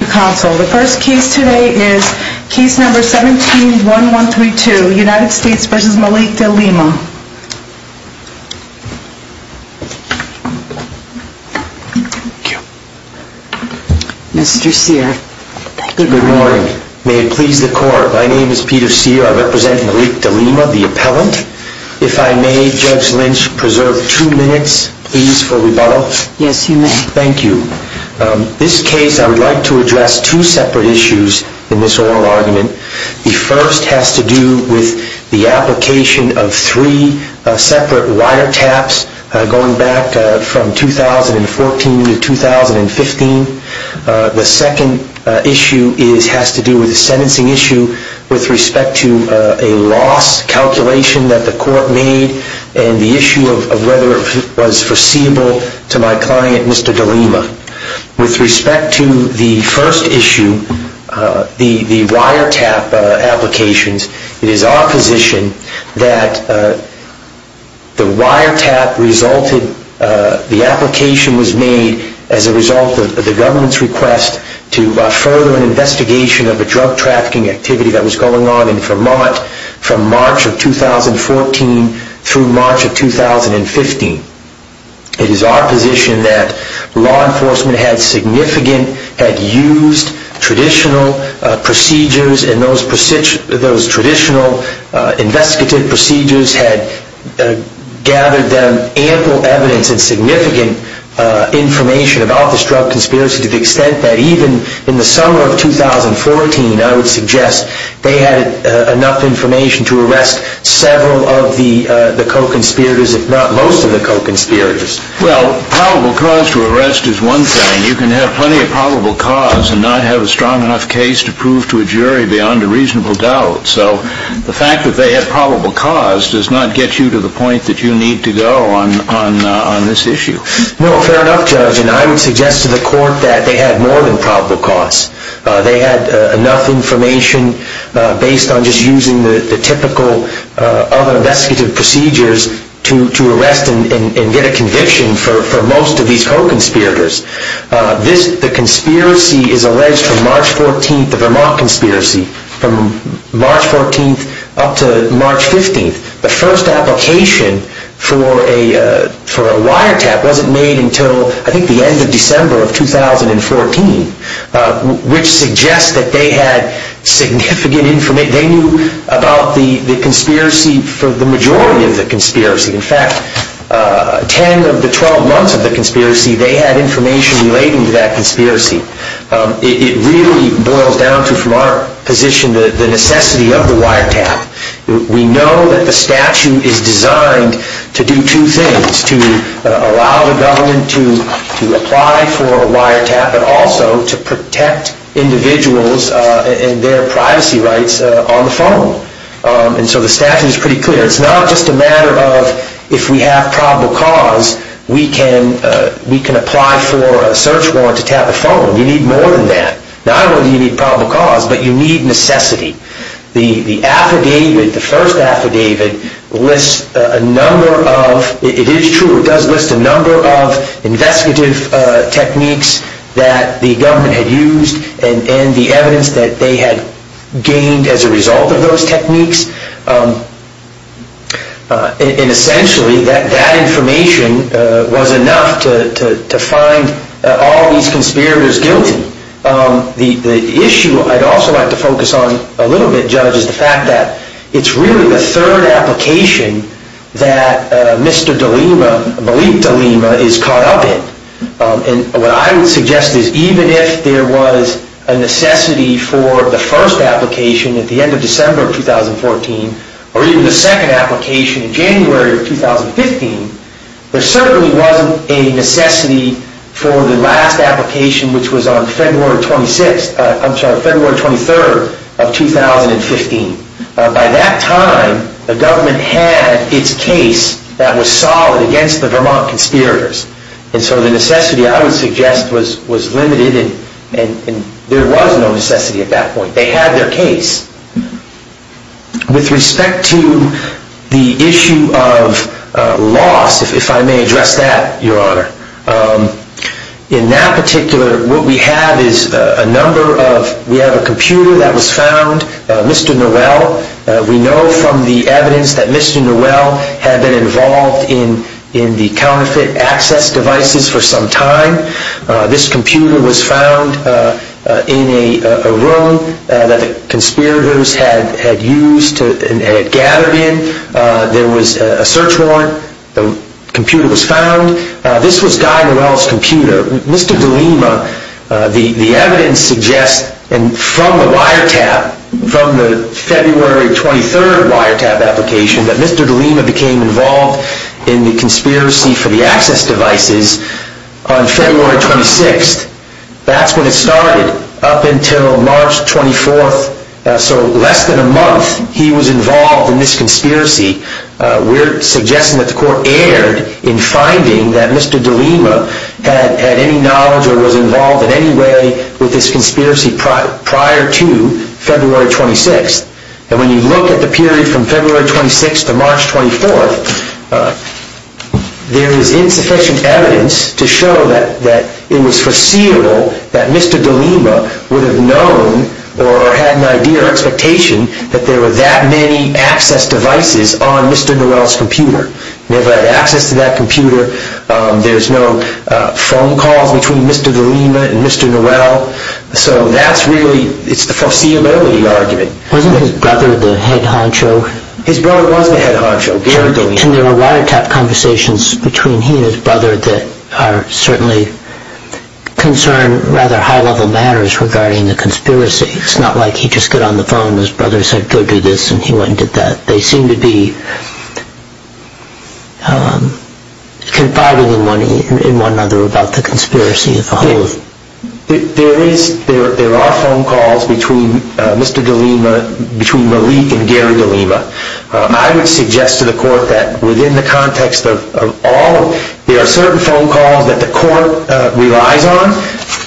Council. The first case today is case number 171132, United States v. Malik Delima. Mr. Sear, good morning. May it please the court, my name is Peter Sear. I represent Malik Delima, the appellant. If I may, Judge Lynch, preserve two minutes, please, for rebuttal. Yes, you may. Thank you. This case, I would like to address two separate issues in this oral argument. The first has to do with the application of three separate wiretaps going back from 2014 to 2015. The second issue has to do with the sentencing issue with respect to a loss calculation that the court made and the issue of whether it was foreseeable to my client, Mr. Delima. With respect to the first issue, the wiretap applications, it is our position that the wiretap resulted, the application was made as a result of the government's request to further an investigation of a drug trafficking activity that was going on in Vermont from March of 2014 through March of 2015. It is our position that law enforcement had significant, had used traditional procedures and those traditional investigative procedures had gathered them ample evidence and significant information about this drug conspiracy to the extent that even in the summer of 2014, I would suggest, they had enough information to arrest several of the co-conspirators, if not most of the co-conspirators. Well, probable cause to arrest is one thing. You can have plenty of probable cause and not have a strong enough case to prove to a jury beyond a reasonable doubt. So the fact that they had probable cause does not get you to the point that you need to go on this issue. No, fair enough, Judge, and I would suggest to the court that they had more than probable cause. They had enough information based on just using the typical other investigative procedures to arrest and get a conviction for most of these co-conspirators. The conspiracy is alleged from March 14th, the Vermont conspiracy, from March 14th up to March 15th. The first application for a wiretap wasn't made until, I think, the end of December of 2014, which suggests that they had significant information. They knew about the conspiracy for the majority of the conspiracy. In fact, 10 of the 12 months of the conspiracy, they had information relating to that conspiracy. It really boils down to, from our position, the necessity of the wiretap. We know that the statute is designed to do two things, to allow the government to apply for a wiretap, but also to protect individuals and their privacy rights on the phone. And so the statute is pretty clear. It's not just a matter of, if we have probable cause, we can apply for a search warrant to tap a phone. You need more than that. Not only do you need probable cause, but you need necessity. The affidavit, the first affidavit, lists a number of, it is true, it does list a number of investigative techniques that the government had used and the evidence that they had gained as a result of those techniques. And essentially, that information was enough to find all these conspirators guilty. The issue I'd also like to focus on a little bit, Judge, is the fact that it's really the third application that Mr. DeLima, Malik DeLima, is caught up in. And what I would suggest is, even if there was a necessity for the first application at the end of December of 2014, or even the second application in January of 2015, there certainly wasn't a necessity for the last application, which was on February 23rd of 2015. By that time, the government had its case that was solid against the Vermont conspirators. And so the necessity, I would suggest, was limited. And there was no necessity at that point. They had their case. With respect to the issue of loss, if I may address that, Your Honor, in that particular, what we have is a number of, we have a computer that was found, Mr. Noel. We know from the evidence that Mr. Noel had been involved in the counterfeit access devices for some time. This computer was found in a room that the conspirators had used, had gathered in. There was a search warrant. The computer was found. This was Guy Noel's computer. Mr. DeLima, the evidence suggests, and from the wiretap, from the February 23rd wiretap application, that Mr. DeLima became involved in the conspiracy for the access devices on February 23rd. On February 26th, that's when it started, up until March 24th. So less than a month, he was involved in this conspiracy. We're suggesting that the court erred in finding that Mr. DeLima had any knowledge or was involved in any way with this conspiracy prior to February 26th. And when you look at the period from February 26th to March 24th, there is insufficient evidence to show that it was foreseeable that Mr. DeLima would have known or had an idea or expectation that there were that many access devices on Mr. Noel's computer. Never had access to that computer. There's no phone calls between Mr. DeLima and Mr. Noel. So that's really, it's the foreseeability argument. Wasn't his brother the head honcho? It's not like he just got on the phone and his brother said go do this and he went and did that. They seem to be confiding in one another about the conspiracy as a whole. There are phone calls between Mr. DeLima, between Malik and Gary DeLima. I would suggest to the court that within the context of all, there are certain phone calls that the court relies on.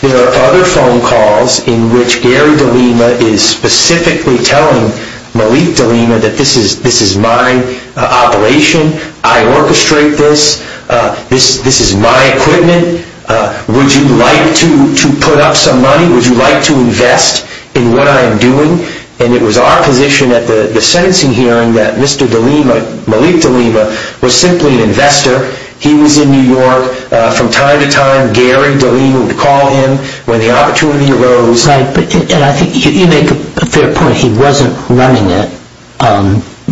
There are other phone calls in which Gary DeLima is specifically telling Malik DeLima that this is my operation. I orchestrate this. This is my equipment. Would you like to put up some money? Would you like to invest in what I'm doing? And it was our position at the sentencing hearing that Mr. DeLima, Malik DeLima, was simply an investor. He was in New York. From time to time Gary DeLima would call him when the opportunity arose. You make a fair point. He wasn't running it.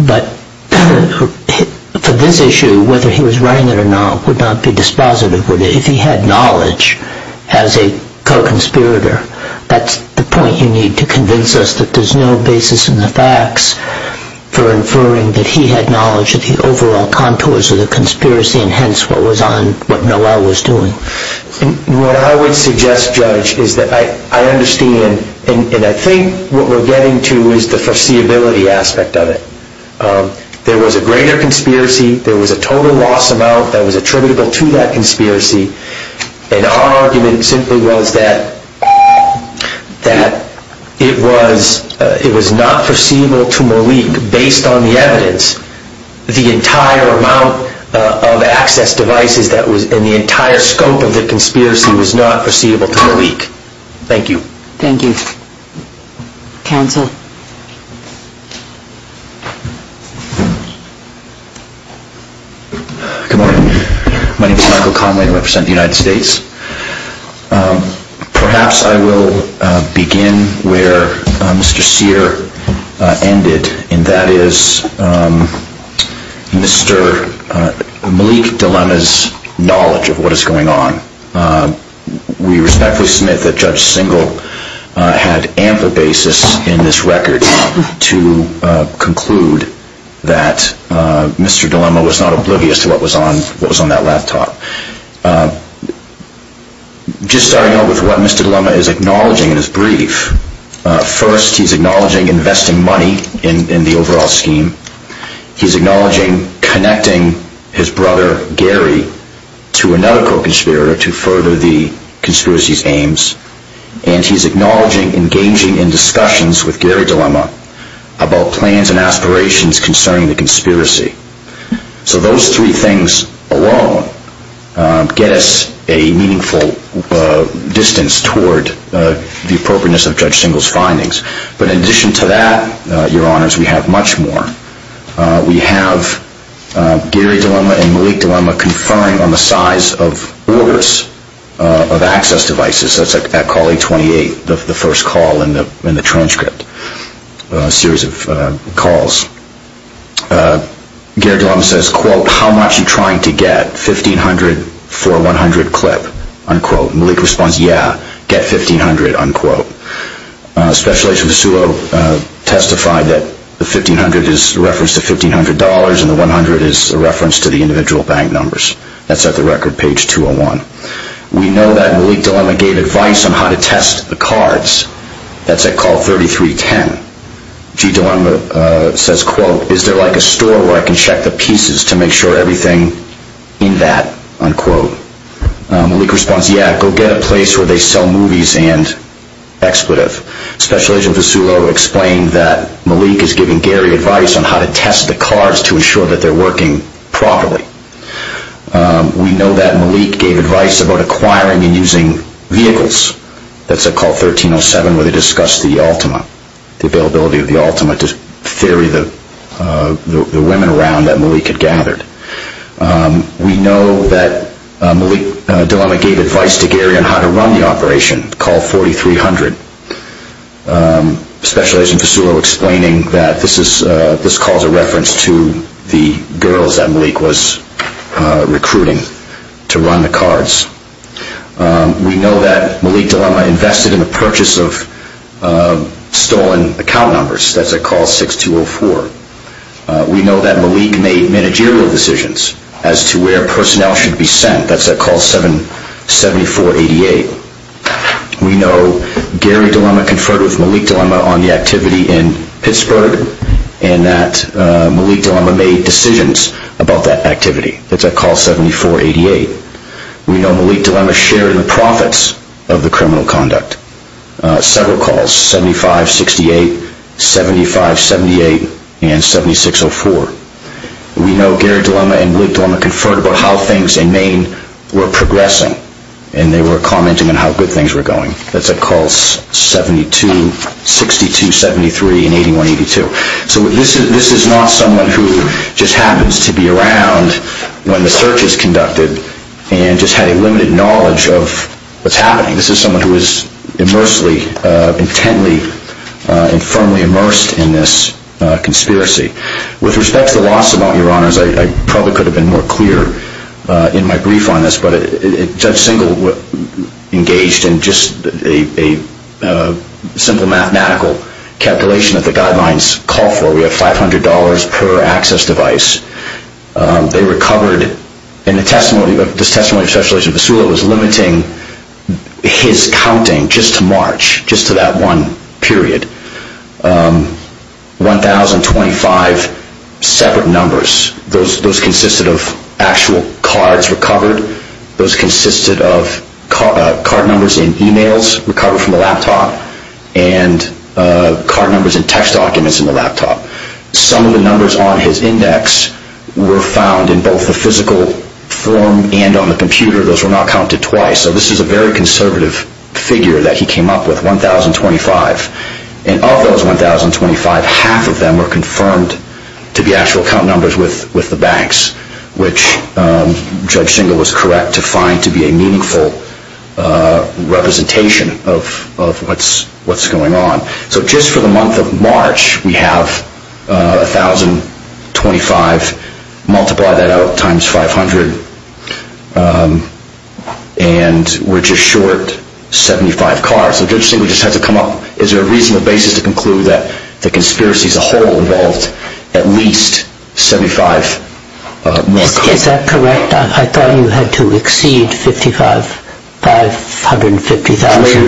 But for this issue, whether he was running it or not would not be dispositive. If he had knowledge as a co-conspirator, that's the point you need to convince us that there's no basis in the facts for inferring that he had knowledge of the overall contours of the conspiracy and hence what Noel was doing. What I would suggest, Judge, is that I understand and I think what we're getting to is the foreseeability aspect of it. There was a greater conspiracy. There was a total loss amount that was attributable to that conspiracy. And our argument simply was that it was not foreseeable to Malik, based on the evidence, the entire amount of access devices and the entire scope of the conspiracy was not foreseeable to Malik. Thank you. Thank you. Counsel. Good morning. My name is Michael Conway and I represent the United States. Perhaps I will begin where Mr. Sear ended and that is Mr. Malik DeLima's knowledge of what is going on. We respectfully submit that Judge Singel had ample basis in this record to conclude that Mr. DeLima was not oblivious to what was on that laptop. Just starting out with what Mr. DeLima is acknowledging in his brief. First, he's acknowledging investing money in the overall scheme. He's acknowledging connecting his brother, Gary, to another co-conspirator to further the conspiracy's aims. And he's acknowledging engaging in discussions with Gary DeLima about plans and aspirations concerning the conspiracy. So those three things alone get us a meaningful distance toward the appropriateness of Judge Singel's findings. But in addition to that, your honors, we have much more. We have Gary DeLima and Malik DeLima conferring on the size of orders of access devices. That's at call 828, the first call in the transcript series of calls. Gary DeLima says, quote, how much are you trying to get? $1,500 for $100 clip, unquote. Malik responds, yeah, get $1,500, unquote. Special Agent Vasulo testified that the $1,500 is a reference to $1,500 and the $100 is a reference to the individual bank numbers. That's at the record page 201. We know that Malik DeLima gave advice on how to test the cards. That's at call 3310. G. DeLima says, quote, is there like a store where I can check the pieces to make sure everything in that, unquote. Malik responds, yeah, go get a place where they sell movies and expletive. Special Agent Vasulo explained that Malik is giving Gary advice on how to test the cards to ensure that they're working properly. We know that Malik gave advice about acquiring and using vehicles. That's at call 1307 where they discussed the Ultima, the availability of the Ultima to ferry the women around that Malik had gathered. We know that Malik DeLima gave advice to Gary on how to run the operation, call 4300. Special Agent Vasulo explaining that this call is a reference to the girls that Malik was recruiting to run the cards. We know that Malik DeLima invested in the purchase of stolen account numbers. That's at call 6204. We know that Malik made managerial decisions as to where personnel should be sent. That's at call 7488. We know Gary DeLima conferred with Malik DeLima on the activity in Pittsburgh and that Malik DeLima made decisions about that activity. That's at call 7488. We know Malik DeLima shared the profits of the criminal conduct. Several calls, 7568, 7578, and 7604. We know Gary DeLima and Malik DeLima conferred about how things in Maine were progressing and they were commenting on how good things were going. That's at calls 7262, 7273, and 8182. So this is not someone who just happens to be around when the search is conducted and just had a limited knowledge of what's happening. This is someone who is immersely, intently, and firmly immersed in this conspiracy. With respect to the loss amount, Your Honors, I probably could have been more clear in my brief on this, but Judge Singel engaged in just a simple mathematical calculation that the guidelines call for. We have $500 per access device. In the testimony, Judge Vassula was limiting his counting just to March. Just to that one period. One thousand, twenty-five separate numbers. Those consisted of actual cards recovered. Those consisted of card numbers in e-mails recovered from the laptop and card numbers in text documents in the laptop. Some of the numbers on his index were found in both the physical form and on the computer. Those were not counted twice. So this is a very conservative figure that he came up with, one thousand, twenty-five. And of those one thousand, twenty-five, half of them were confirmed to be actual count numbers with the banks, which Judge Singel was correct to find to be a meaningful representation of what's going on. So just for the month of March, we have a thousand, twenty-five, multiply that out times five hundred, and we're just short seventy-five cards. So Judge Singel just had to come up with a reasonable basis to conclude that the conspiracy as a whole involved at least seventy-five more cards. Is that correct? I thought you had to exceed fifty-five, five hundred and fifty thousand.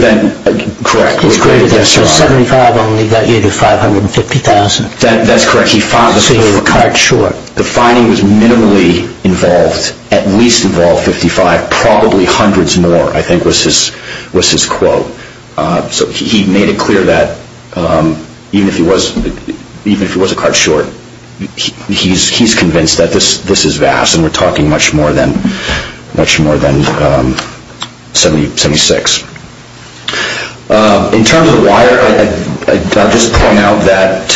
Correct. So seventy-five only got you to five hundred and fifty thousand. That's correct. So you were a card short. The finding was minimally involved, at least involved fifty-five, probably hundreds more I think was his quote. So he made it clear that even if he was a card short, he's convinced that this is vast and we're talking much more than seventy-six. In terms of the wire, I'll just point out that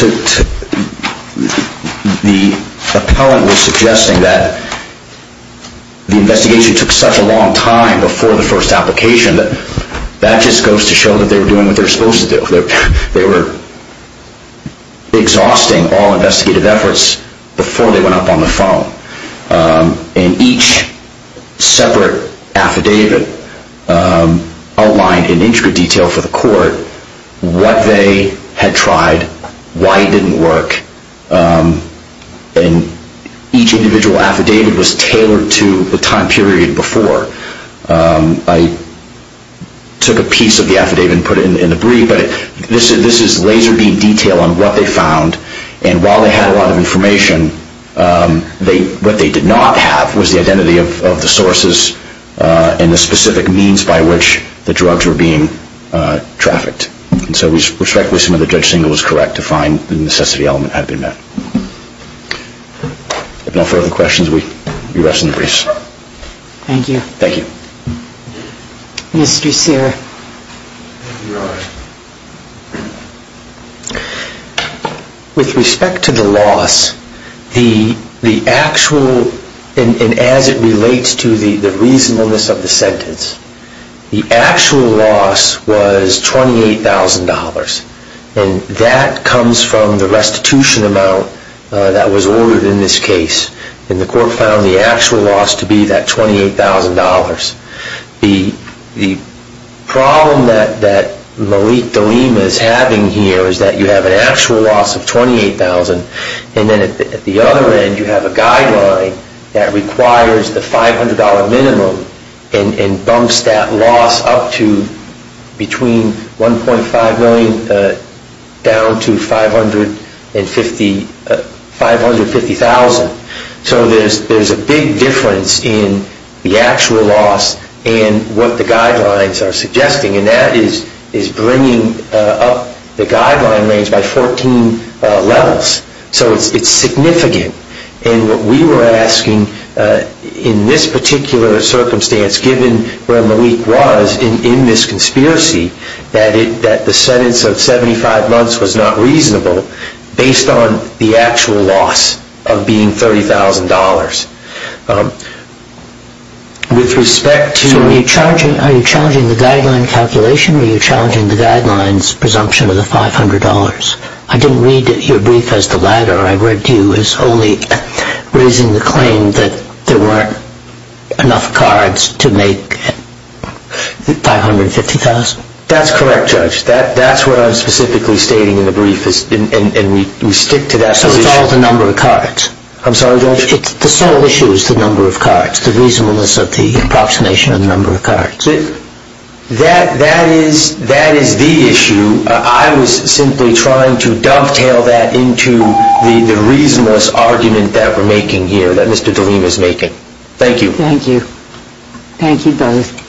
the appellant was suggesting that the investigation took such a long time before the first application that that just goes to show that they were doing what they were supposed to do. They were exhausting all investigative efforts before they went up on the phone. And each separate affidavit outlined in intricate detail for the court what they had tried, why it didn't work, and each individual affidavit was tailored to the time period before. I took a piece of the affidavit and put it in the brief, but this is laser-beam detail on what they found. And while they had a lot of information, what they did not have was the identity of the sources and the specific means by which the drugs were being trafficked. And so we respectfully assume that Judge Singleton was correct to find the necessity element had been met. If there are no further questions, we rest in the briefs. Thank you. Thank you. Mr. Duceyre. With respect to the loss, the actual, and as it relates to the reasonableness of the sentence, the actual loss was $28,000. And that comes from the restitution amount that was ordered in this case. And the court found the actual loss to be that $28,000. The problem that Malik Dolema is having here is that you have an actual loss of $28,000, and then at the other end you have a guideline that requires the $500 minimum and bumps that loss up to between $1.5 million down to $550,000. So there's a big difference in the actual loss and what the guidelines are suggesting, and that is bringing up the guideline range by 14 levels. So it's significant. And what we were asking in this particular circumstance, given where Malik was in this conspiracy, that the sentence of 75 months was not reasonable based on the actual loss of being $30,000. So are you challenging the guideline calculation or are you challenging the guideline's presumption of the $500? I didn't read your brief as the latter. I read you as only raising the claim that there weren't enough cards to make $550,000. That's correct, Judge. That's what I was specifically stating in the brief, and we stick to that. So it's all the number of cards. I'm sorry, Judge? The sole issue is the number of cards, the reasonableness of the approximation of the number of cards. That is the issue. I was simply trying to dovetail that into the reasonableness argument that we're making here, that Mr. Doleen is making. Thank you. Thank you. Thank you both.